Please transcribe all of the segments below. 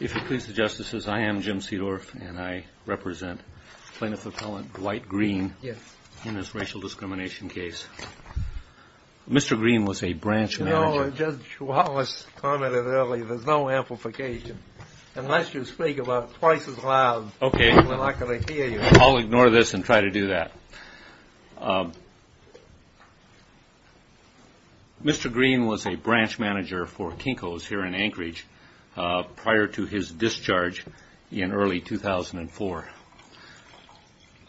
If you'll please the Justices, I am Jim Seedorf and I represent Plaintiff Appellant Dwight Greene in this racial discrimination case. Mr. Greene was a branch manager. No, Judge Wallace commented earlier, there's no amplification unless you speak about twice as loud. Okay. Then I can hear you. I'll ignore this and try to do that. Mr. Greene was a branch manager for Kinko's here in Anchorage prior to his discharge in early 2004.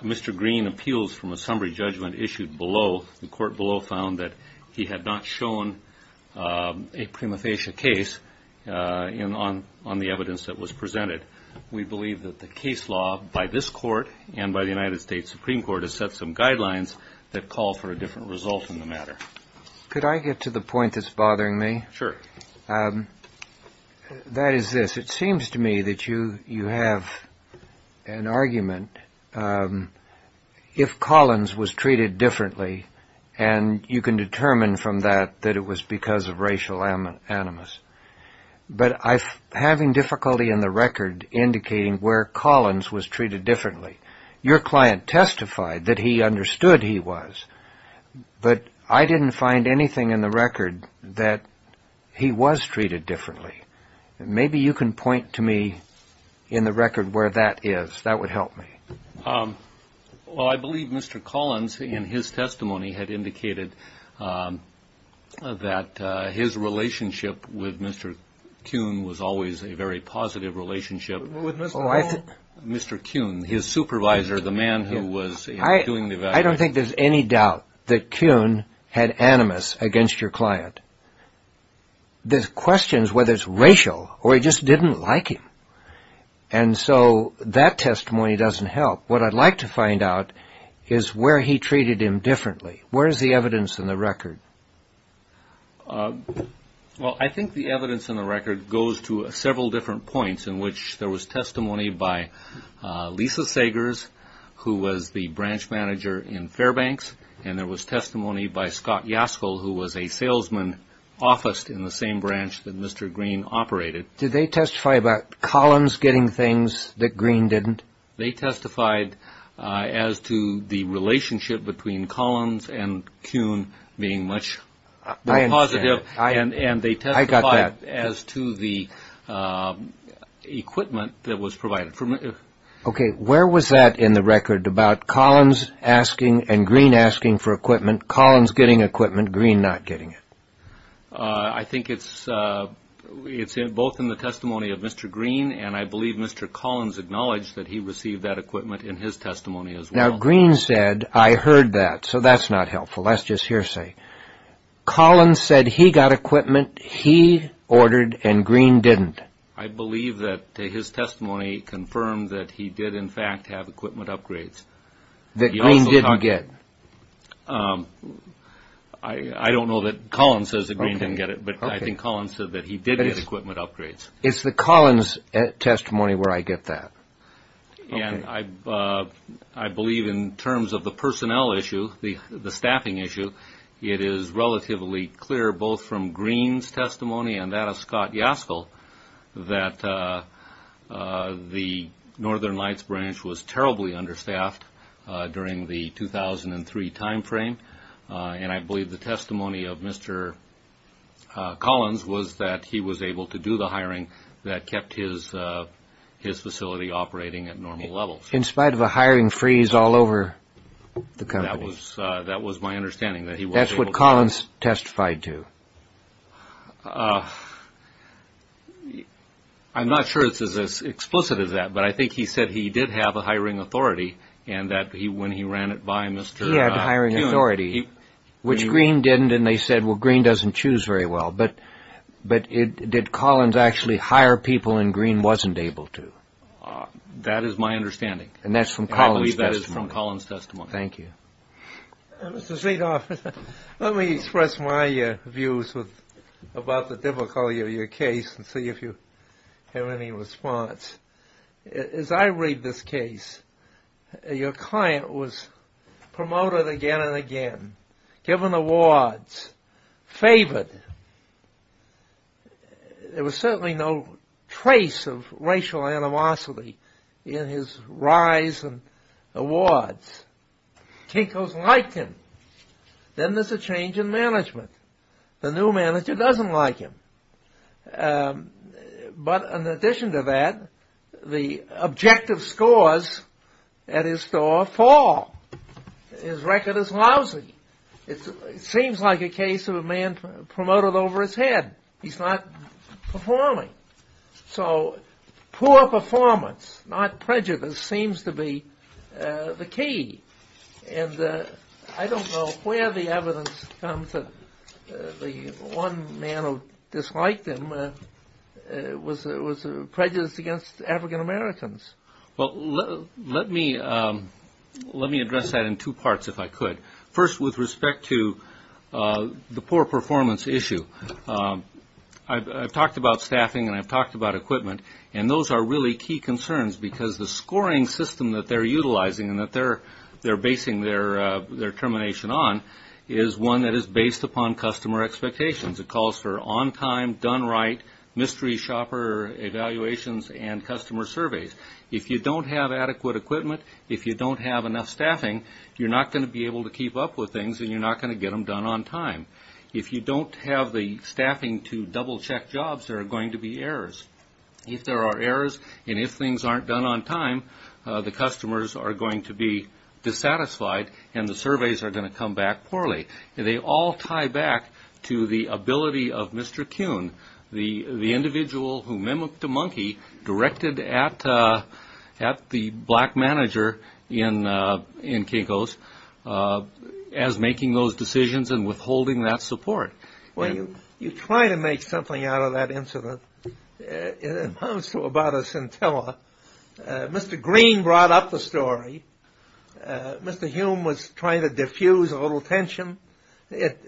Mr. Greene appeals from a summary judgment issued below. The court below found that he had not shown a prima facie case on the evidence that was presented. We believe that the case law by this court and by the United States Supreme Court has set some guidelines that call for a different result in the matter. Could I get to the point that's bothering me? Sure. That is this. It seems to me that you have an argument. If Collins was treated differently and you can determine from that that it was because of racial animus. But I'm having difficulty in the record indicating where Collins was treated differently. Your client testified that he understood he was, but I didn't find anything in the record that he was treated differently. Maybe you can point to me in the record where that is. That would help me. Well, I believe Mr. Collins in his testimony had indicated that his relationship with Mr. Kuhn was always a very positive relationship. With Mr. Kuhn? Mr. Kuhn, his supervisor, the man who was doing the evaluation. I don't think there's any doubt that Kuhn had animus against your client. There's questions whether it's racial or he just didn't like him. And so that testimony doesn't help. What I'd like to find out is where he treated him differently. Where is the evidence in the record? Well, I think the evidence in the record goes to several different points in which there was testimony by Lisa Sagers, who was the branch manager in Fairbanks, and there was testimony by Scott Yaskel, who was a salesman officed in the same branch that Mr. Green operated. Did they testify about Collins getting things that Green didn't? They testified as to the relationship between Collins and Kuhn being much more positive. I understand. I got that. And they testified as to the equipment that was provided. Okay, where was that in the record about Collins asking and Green asking for equipment, Collins getting equipment, Green not getting it? I think it's both in the testimony of Mr. Green, and I believe Mr. Collins acknowledged that he received that equipment in his testimony as well. Now, Green said, I heard that, so that's not helpful, that's just hearsay. Collins said he got equipment, he ordered, and Green didn't. I believe that his testimony confirmed that he did, in fact, have equipment upgrades. That Green didn't get. I don't know that Collins says that Green didn't get it, but I think Collins said that he did get equipment upgrades. It's the Collins testimony where I get that. And I believe in terms of the personnel issue, the staffing issue, it is relatively clear both from Green's testimony and that of Scott Yaskel that the Northern Lights branch was terribly understaffed during the 2003 time frame, and I believe the testimony of Mr. Collins was that he was able to do the hiring that kept his facility operating at normal levels. In spite of a hiring freeze all over the company? That was my understanding. That's what Collins testified to? I'm not sure it's as explicit as that, but I think he said he did have a hiring authority, and that when he ran it by Mr. Kuhn. He had a hiring authority, which Green didn't, and they said, well, Green doesn't choose very well. But did Collins actually hire people and Green wasn't able to? That is my understanding. And that's from Collins' testimony. And I believe that is from Collins' testimony. Thank you. Mr. State Officer, let me express my views about the difficulty of your case and see if you have any response. As I read this case, your client was promoted again and again, given awards, favored. There was certainly no trace of racial animosity in his rise and awards. Kinko's liked him. Then there's a change in management. The new manager doesn't like him. But in addition to that, the objective scores at his store fall. His record is lousy. It seems like a case of a man promoted over his head. He's not performing. So poor performance, not prejudice, seems to be the key. And I don't know where the evidence comes that the one man who disliked him was prejudiced against African Americans. Well, let me address that in two parts, if I could. First, with respect to the poor performance issue. I've talked about staffing and I've talked about equipment. And those are really key concerns because the scoring system that they're utilizing and that they're basing their determination on is one that is based upon customer expectations. It calls for on time, done right, mystery shopper evaluations and customer surveys. If you don't have adequate equipment, if you don't have enough staffing, you're not going to be able to keep up with things and you're not going to get them done on time. If you don't have the staffing to double check jobs, there are going to be errors. If there are errors and if things aren't done on time, the customers are going to be dissatisfied and the surveys are going to come back poorly. They all tie back to the ability of Mr. Kuhn, the individual who mimicked a monkey, directed at the black manager in Kinko's as making those decisions and withholding that support. When you try to make something out of that incident, it amounts to about a scintilla. Mr. Green brought up the story. Mr. Hume was trying to diffuse a little tension. It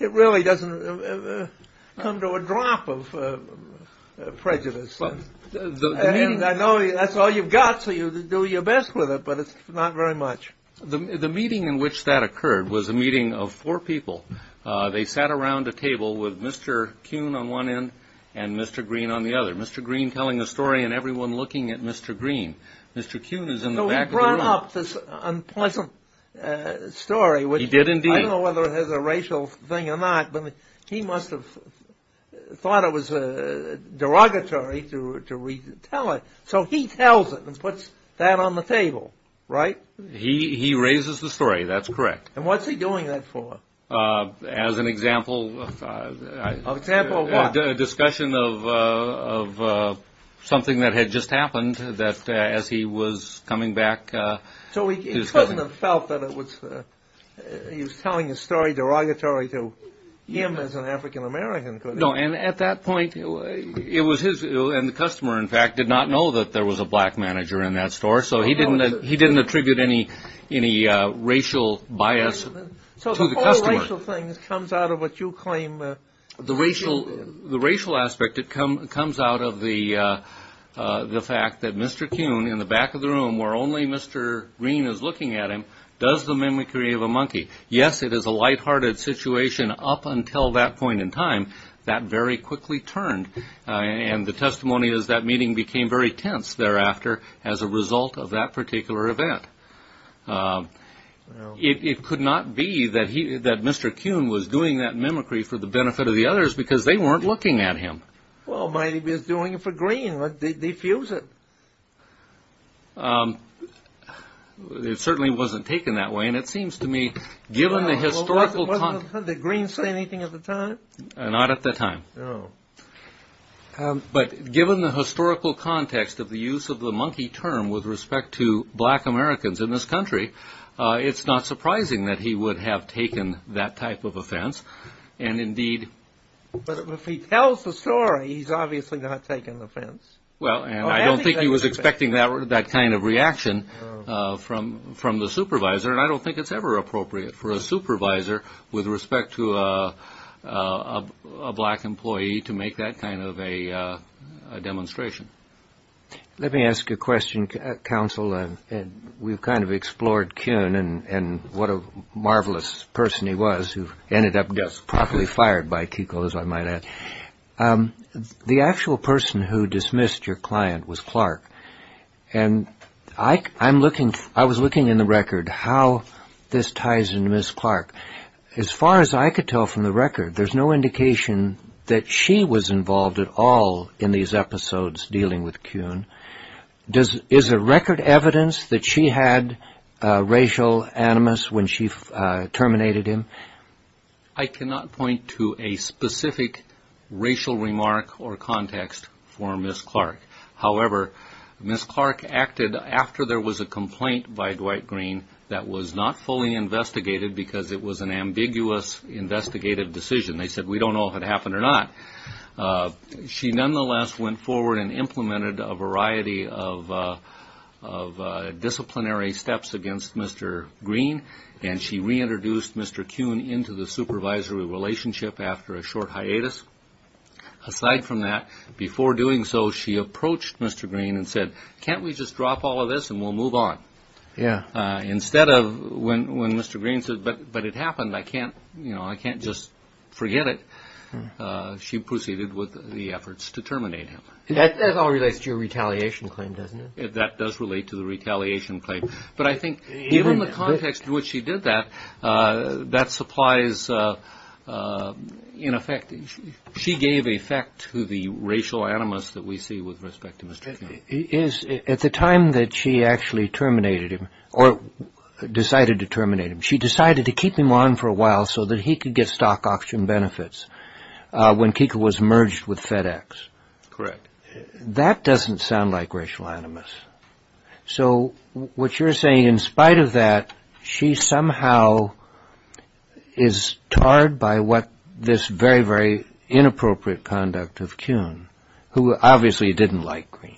really doesn't come to a drop of prejudice. I know that's all you've got, so you do your best with it, but it's not very much. The meeting in which that occurred was a meeting of four people. They sat around a table with Mr. Kuhn on one end and Mr. Green on the other, Mr. Green telling a story and everyone looking at Mr. Green. Mr. Kuhn is in the back of the room. He brought up this unpleasant story. He did indeed. I don't know whether it was a racial thing or not, but he must have thought it was derogatory to tell it. So he tells it and puts that on the table, right? He raises the story. That's correct. What's he doing that for? As an example. An example of what? A discussion of something that had just happened as he was coming back. So he couldn't have felt that he was telling a story derogatory to him as an African-American, could he? No, and at that point it was his, and the customer, in fact, did not know that there was a black manager in that store, so he didn't attribute any racial bias to the customer. So the whole racial thing comes out of what you claim. The racial aspect, it comes out of the fact that Mr. Kuhn, in the back of the room where only Mr. Green is looking at him, does the mimicry of a monkey. Yes, it is a lighthearted situation up until that point in time. That very quickly turned, and the testimony is that meeting became very tense thereafter as a result of that particular event. It could not be that Mr. Kuhn was doing that mimicry for the benefit of the others because they weren't looking at him. Well, maybe he was doing it for Green. They fuse it. It certainly wasn't taken that way, and it seems to me, given the historical context. Did Green say anything at the time? Not at the time. But given the historical context of the use of the monkey term with respect to black Americans in this country, it's not surprising that he would have taken that type of offense, and indeed. But if he tells the story, he's obviously not taking the offense. Well, and I don't think he was expecting that kind of reaction from the supervisor, and I don't think it's ever appropriate for a supervisor with respect to a black employee to make that kind of a demonstration. Let me ask a question, Counsel. We've kind of explored Kuhn and what a marvelous person he was who ended up just properly fired by KUCL, as I might add. The actual person who dismissed your client was Clark, and I was looking in the record how this ties into Ms. Clark. As far as I could tell from the record, there's no indication that she was involved at all in these episodes dealing with Kuhn. Is there record evidence that she had racial animus when she terminated him? I cannot point to a specific racial remark or context for Ms. Clark. However, Ms. Clark acted after there was a complaint by Dwight Green that was not fully investigated because it was an ambiguous investigative decision. They said, we don't know if it happened or not. She nonetheless went forward and implemented a variety of disciplinary steps against Mr. Green, and she reintroduced Mr. Kuhn into the supervisory relationship after a short hiatus. Aside from that, before doing so, she approached Mr. Green and said, can't we just drop all of this and we'll move on? Yeah. Instead of when Mr. Green said, but it happened, I can't just forget it, she proceeded with the efforts to terminate him. That all relates to your retaliation claim, doesn't it? That does relate to the retaliation claim. But I think given the context in which she did that, that supplies, in effect, she gave effect to the racial animus that we see with respect to Mr. Kuhn. At the time that she actually terminated him, or decided to terminate him, she decided to keep him on for a while so that he could get stock auction benefits when Keeker was merged with FedEx. Correct. That doesn't sound like racial animus. So what you're saying, in spite of that, she somehow is tarred by what this very, very inappropriate conduct of Kuhn, who obviously didn't like Green.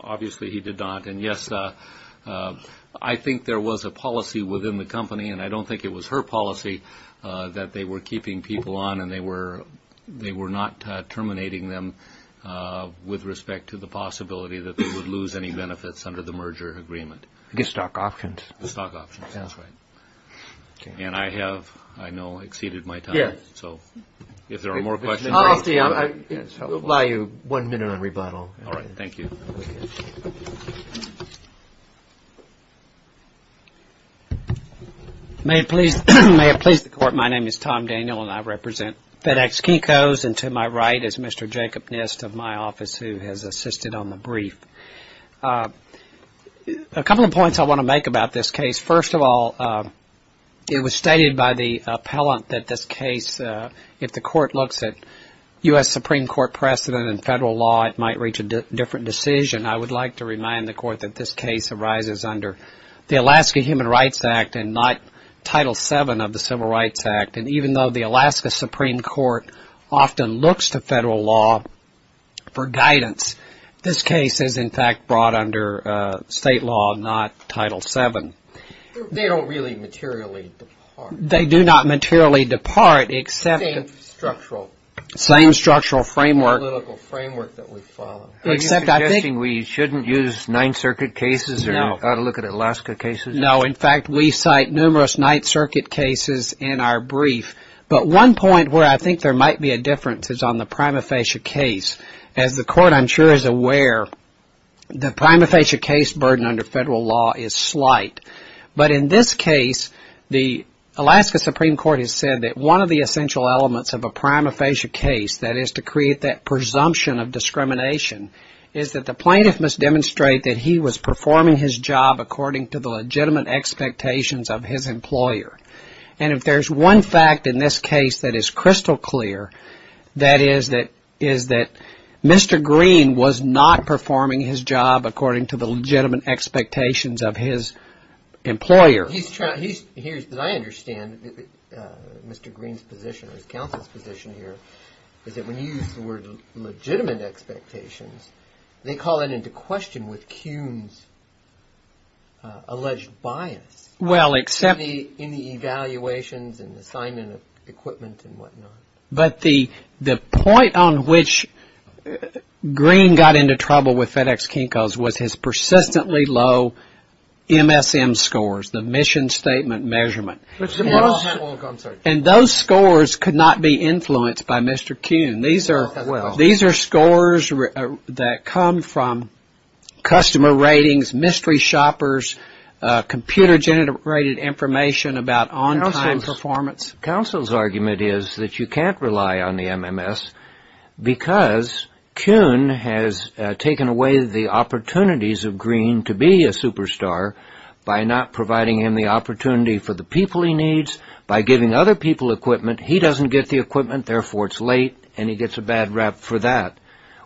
Obviously he did not. And, yes, I think there was a policy within the company, and I don't think it was her policy, that they were keeping people on and they were not terminating them with respect to the possibility that they would lose any benefits under the merger agreement. The stock options. The stock options, that's right. And I have, I know, exceeded my time. So if there are more questions. We'll allow you one minute of rebuttal. All right, thank you. Thank you. May it please the Court, my name is Tom Daniel, and I represent FedEx Keikos, and to my right is Mr. Jacob Nist of my office, who has assisted on the brief. A couple of points I want to make about this case. First of all, it was stated by the appellant that this case, if the Court looks at U.S. Supreme Court precedent and federal law, it might reach a different decision. I would like to remind the Court that this case arises under the Alaska Human Rights Act and not Title VII of the Civil Rights Act. And even though the Alaska Supreme Court often looks to federal law for guidance, this case is, in fact, brought under state law, not Title VII. They don't really materially depart. They do not materially depart except the same structural framework. Same political framework that we follow. Are you suggesting we shouldn't use Ninth Circuit cases or ought to look at Alaska cases? No, in fact, we cite numerous Ninth Circuit cases in our brief. But one point where I think there might be a difference is on the prima facie case. As the Court, I'm sure, is aware, the prima facie case burden under federal law is slight. But in this case, the Alaska Supreme Court has said that one of the essential elements of a prima facie case, that is to create that presumption of discrimination, is that the plaintiff must demonstrate that he was performing his job according to the legitimate expectations of his employer. And if there's one fact in this case that is crystal clear, that is that Mr. Green was not performing his job according to the legitimate expectations of his employer. As I understand it, Mr. Green's position, his counsel's position here, is that when you use the word legitimate expectations, they call that into question with Kuhn's alleged bias in the evaluations and assignment of equipment and whatnot. But the point on which Green got into trouble with FedEx Kinko's was his persistently low MSM scores, the mission statement measurement. And those scores could not be influenced by Mr. Kuhn. These are scores that come from customer ratings, mystery shoppers, computer generated information about on-time performance. Counsel's argument is that you can't rely on the MMS because Kuhn has taken away the opportunities of Green to be a superstar by not providing him the opportunity for the people he needs, by giving other people equipment. He doesn't get the equipment, therefore it's late, and he gets a bad rap for that.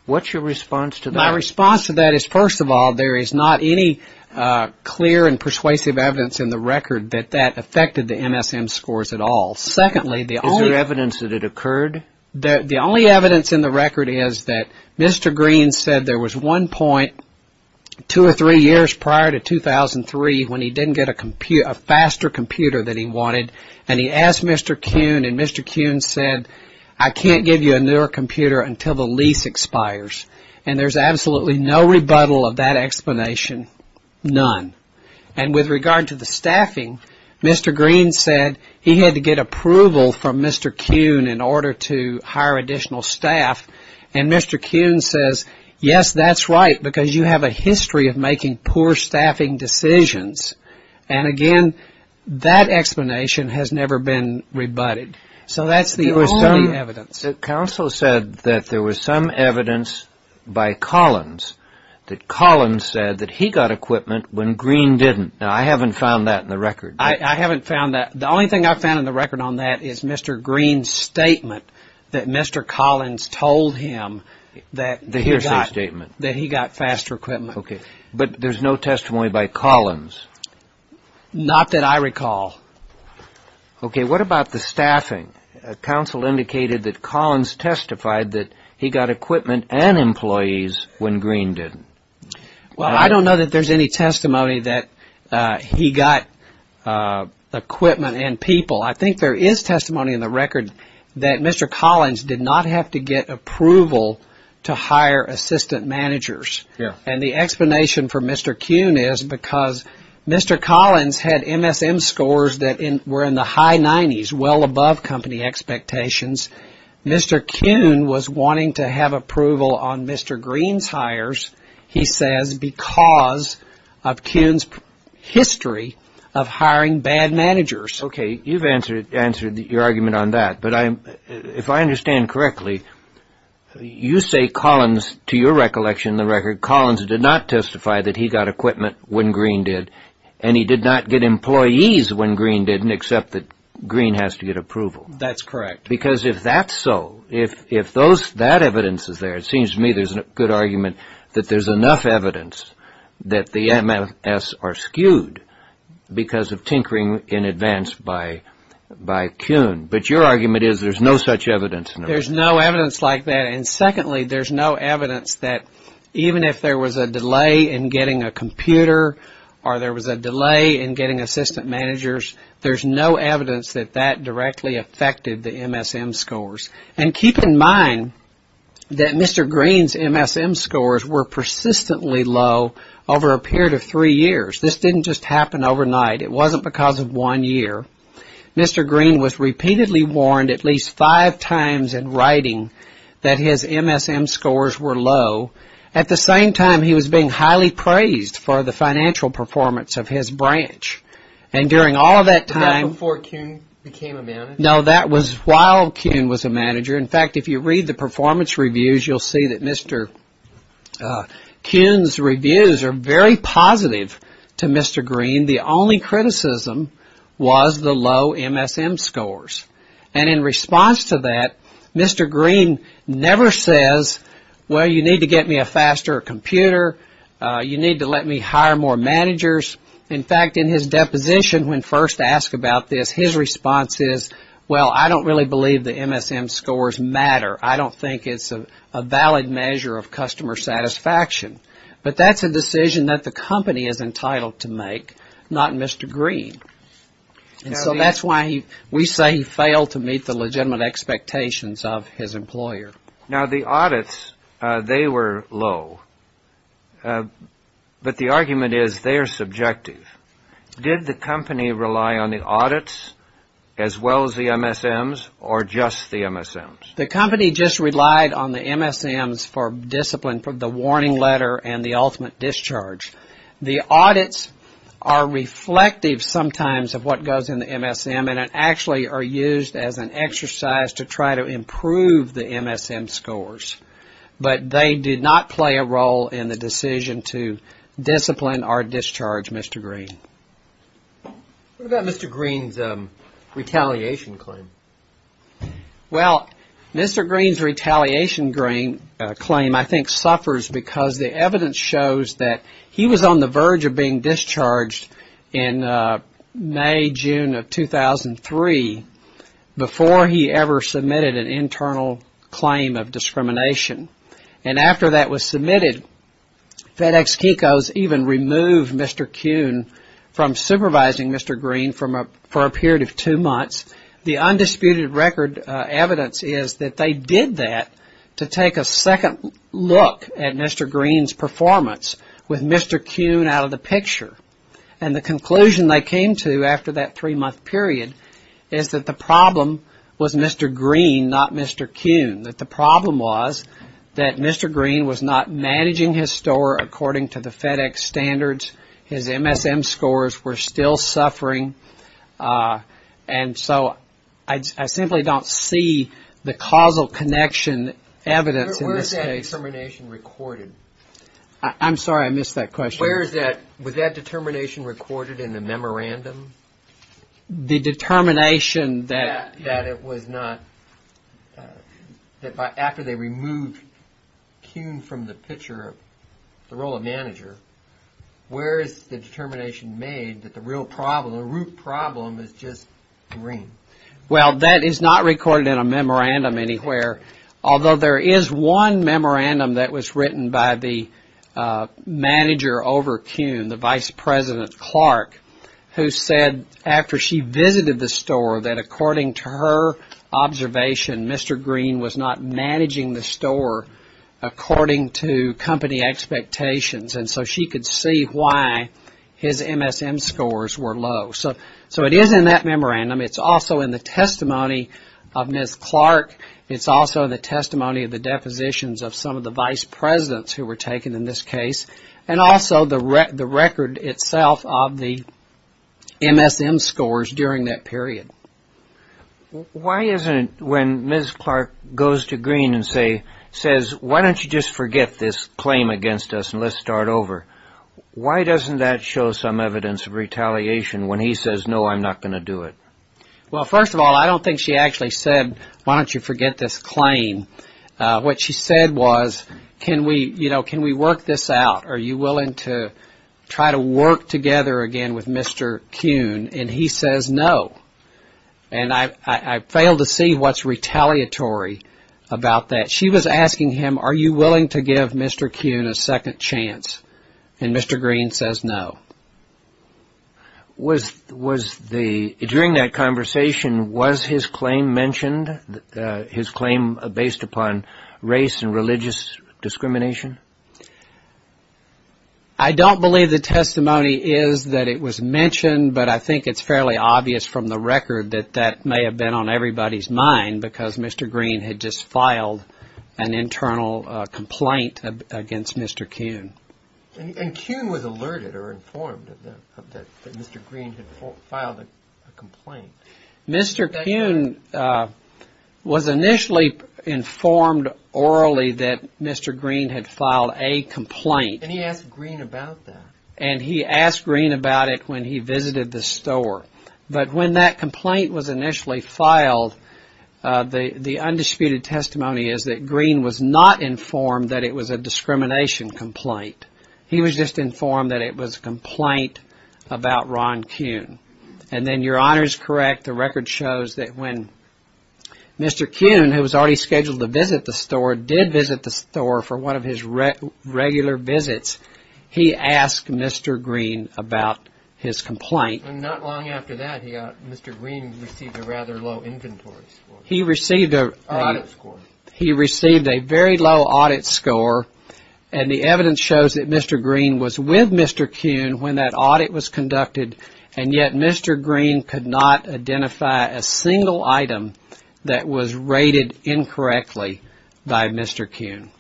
What's your response to that? My response to that is, first of all, there is not any clear and persuasive evidence in the record that that affected the MSM scores at all. Is there evidence that it occurred? The only evidence in the record is that Mr. Green said there was one point two or three years prior to 2003 when he didn't get a faster computer than he wanted, and he asked Mr. Kuhn, and Mr. Kuhn said, I can't give you a newer computer until the lease expires. And there's absolutely no rebuttal of that explanation, none. And with regard to the staffing, Mr. Green said he had to get approval from Mr. Kuhn in order to hire additional staff, and Mr. Kuhn says, yes, that's right, because you have a history of making poor staffing decisions. And again, that explanation has never been rebutted. So that's the only evidence. Counsel said that there was some evidence by Collins, that Collins said that he got equipment when Green didn't. Now, I haven't found that in the record. I haven't found that. The only thing I found in the record on that is Mr. Green's statement that Mr. Collins told him that he got faster equipment. But there's no testimony by Collins. Not that I recall. Okay, what about the staffing? Counsel indicated that Collins testified that he got equipment and employees when Green didn't. Well, I don't know that there's any testimony that he got equipment and people. I think there is testimony in the record that Mr. Collins did not have to get approval to hire assistant managers. And the explanation for Mr. Kuhn is because Mr. Collins had MSM scores that were in the high 90s, well above company expectations. Mr. Kuhn was wanting to have approval on Mr. Green's hires, he says, because of Kuhn's history of hiring bad managers. Okay, you've answered your argument on that. But if I understand correctly, you say Collins, to your recollection in the record, Collins did not testify that he got equipment when Green did. And he did not get employees when Green didn't, except that Green has to get approval. That's correct. Because if that's so, if that evidence is there, it seems to me there's a good argument that there's enough evidence that the MS are skewed because of tinkering in advance by Kuhn. But your argument is there's no such evidence. There's no evidence like that. And secondly, there's no evidence that even if there was a delay in getting a computer or there was a delay in getting assistant managers, there's no evidence that that directly affected the MSM scores. And keep in mind that Mr. Green's MSM scores were persistently low over a period of three years. This didn't just happen overnight. It wasn't because of one year. Mr. Green was repeatedly warned at least five times in writing that his MSM scores were low. At the same time, he was being highly praised for the financial performance of his branch. And during all of that time... That was before Kuhn became a manager? No, that was while Kuhn was a manager. In fact, if you read the performance reviews, you'll see that Mr. Kuhn's reviews are very positive to Mr. Green. The only criticism was the low MSM scores. And in response to that, Mr. Green never says, Well, you need to get me a faster computer. You need to let me hire more managers. In fact, in his deposition, when first asked about this, his response is, Well, I don't really believe the MSM scores matter. I don't think it's a valid measure of customer satisfaction. But that's a decision that the company is entitled to make, not Mr. Green. And so that's why we say he failed to meet the legitimate expectations of his employer. Now, the audits, they were low. But the argument is they are subjective. Did the company rely on the audits as well as the MSMs or just the MSMs? The company just relied on the MSMs for discipline, the warning letter and the ultimate discharge. The audits are reflective sometimes of what goes in the MSM and actually are used as an exercise to try to improve the MSM scores. But they did not play a role in the decision to discipline or discharge Mr. Green. What about Mr. Green's retaliation claim? Well, Mr. Green's retaliation claim I think suffers because the evidence shows that he was on the verge of being discharged in May, June of 2003 before he ever submitted an internal claim of discrimination. And after that was submitted, FedEx Kikos even removed Mr. Kuhn from supervising Mr. Green for a period of two months. The undisputed record evidence is that they did that to take a second look at Mr. Green's performance with Mr. Kuhn out of the picture. And the conclusion they came to after that three-month period is that the problem was Mr. Green, not Mr. Kuhn. That the problem was that Mr. Green was not managing his store according to the FedEx standards. His MSM scores were still suffering. And so I simply don't see the causal connection evidence in this case. Where is that determination recorded? I'm sorry, I missed that question. Was that determination recorded in the memorandum? The determination that it was not. After they removed Kuhn from the picture, the role of manager, where is the determination made that the real problem, the root problem is just Green? Well, that is not recorded in a memorandum anywhere. Although there is one memorandum that was written by the manager over Kuhn, the Vice President Clark, who said after she visited the store that according to her observation, Mr. Green was not managing the store according to company expectations. And so she could see why his MSM scores were low. So it is in that memorandum. It's also in the testimony of Ms. Clark. It's also in the testimony of the depositions of some of the Vice Presidents who were taken in this case. And also the record itself of the MSM scores during that period. Why isn't it when Ms. Clark goes to Green and says, why don't you just forget this claim against us and let's start over? Why doesn't that show some evidence of retaliation when he says, no, I'm not going to do it? Well, first of all, I don't think she actually said, why don't you forget this claim? What she said was, can we work this out? Are you willing to try to work together again with Mr. Kuhn? And he says, no. And I fail to see what's retaliatory about that. She was asking him, are you willing to give Mr. Kuhn a second chance? And Mr. Green says, no. During that conversation, was his claim mentioned? His claim based upon race and religious discrimination? I don't believe the testimony is that it was mentioned, but I think it's fairly obvious from the record that that may have been on everybody's mind because Mr. Green had just filed an internal complaint against Mr. Kuhn. And Kuhn was alerted or informed that Mr. Green had filed a complaint. Mr. Kuhn was initially informed orally that Mr. Green had filed a complaint. And he asked Green about that. And he asked Green about it when he visited the store. But when that complaint was initially filed, the undisputed testimony is that Green was not informed that it was a discrimination complaint. He was just informed that it was a complaint about Ron Kuhn. And then your honor is correct. The record shows that when Mr. Kuhn, who was already scheduled to visit the store, did visit the store for one of his regular visits, he asked Mr. Green about his complaint. Not long after that, Mr. Green received a rather low inventory score. He received a very low audit score. And the evidence shows that Mr. Green was with Mr. Kuhn when that audit was conducted. And yet Mr. Green could not identify a single item that was rated incorrectly by Mr. Kuhn.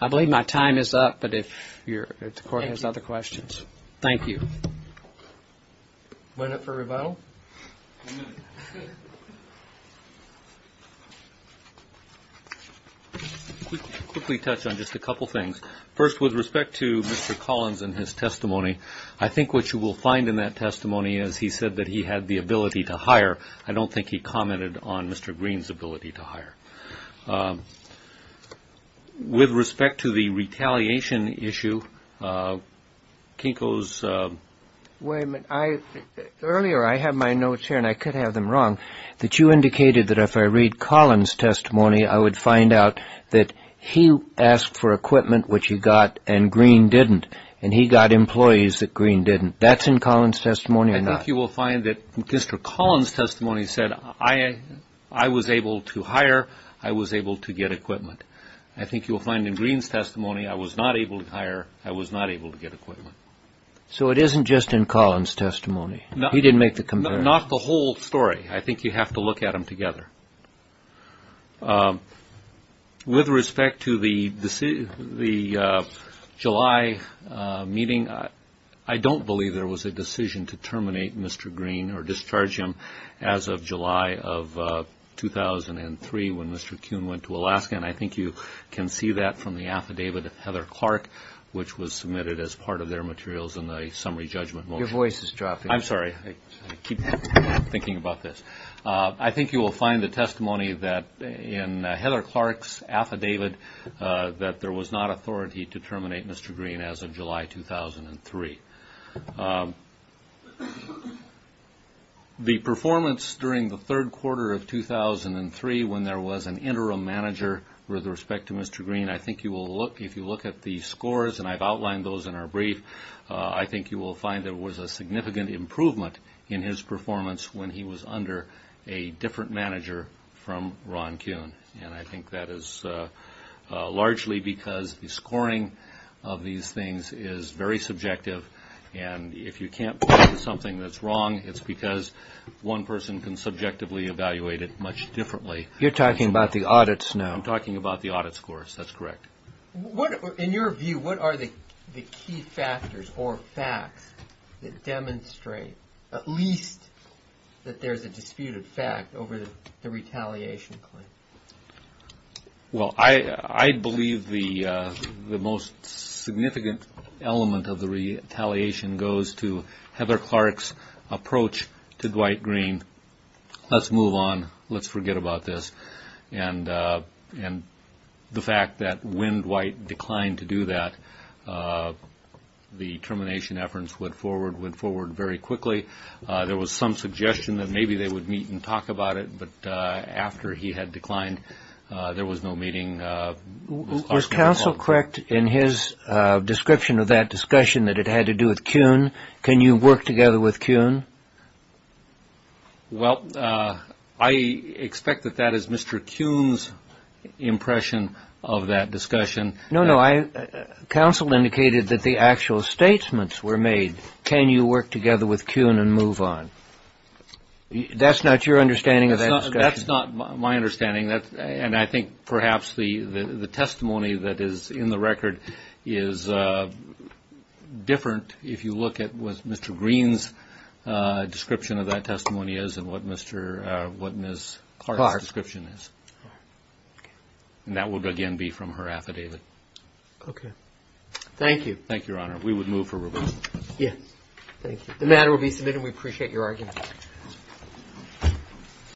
I believe my time is up, but if the court has other questions. Thank you. Went up for rebuttal? Quickly touch on just a couple things. First, with respect to Mr. Collins and his testimony, I think what you will find in that testimony is he said that he had the ability to hire. I don't think he commented on Mr. Green's ability to hire. With respect to the retaliation issue, Kinko's. Wait a minute. Earlier I had my notes here, and I could have them wrong, that you indicated that if I read Collins' testimony, I would find out that he asked for equipment, which he got, and Green didn't. And he got employees that Green didn't. That's in Collins' testimony or not? I think you will find that Mr. Collins' testimony said I was able to hire, I was able to get equipment. I think you will find in Green's testimony I was not able to hire, I was not able to get equipment. So it isn't just in Collins' testimony. He didn't make the comparison. Not the whole story. I think you have to look at them together. With respect to the July meeting, I don't believe there was a decision to terminate Mr. Green or discharge him as of July of 2003 when Mr. Kuhn went to Alaska, and I think you can see that from the affidavit of Heather Clark, which was submitted as part of their materials in the summary judgment motion. Your voice is dropping. I'm sorry. I keep thinking about this. I think you will find the testimony in Heather Clark's affidavit that there was not authority to terminate Mr. Green as of July 2003. The performance during the third quarter of 2003 when there was an interim manager with respect to Mr. Green, I think if you look at the scores, and I've outlined those in our brief, I think you will find there was a significant improvement in his performance when he was under a different manager from Ron Kuhn, and I think that is largely because the scoring of these things is very subjective, and if you can't point to something that's wrong, it's because one person can subjectively evaluate it much differently. You're talking about the audits now. I'm talking about the audit scores. That's correct. In your view, what are the key factors or facts that demonstrate at least that there's a disputed fact over the retaliation claim? Well, I believe the most significant element of the retaliation goes to Heather Clark's approach to Dwight Green, let's move on, let's forget about this, and the fact that when Dwight declined to do that, the termination efforts went forward very quickly. There was some suggestion that maybe they would meet and talk about it, but after he had declined, there was no meeting. Was counsel correct in his description of that discussion that it had to do with Kuhn? Can you work together with Kuhn? Well, I expect that that is Mr. Kuhn's impression of that discussion. No, no. Counsel indicated that the actual statements were made, can you work together with Kuhn and move on. That's not your understanding of that discussion. That's not my understanding, and I think perhaps the testimony that is in the record is different. If you look at what Mr. Green's description of that testimony is and what Ms. Clark's description is, that would again be from her affidavit. Okay. Thank you. Thank you, Your Honor. We would move for review. Yes, thank you. The matter will be submitted. We appreciate your argument.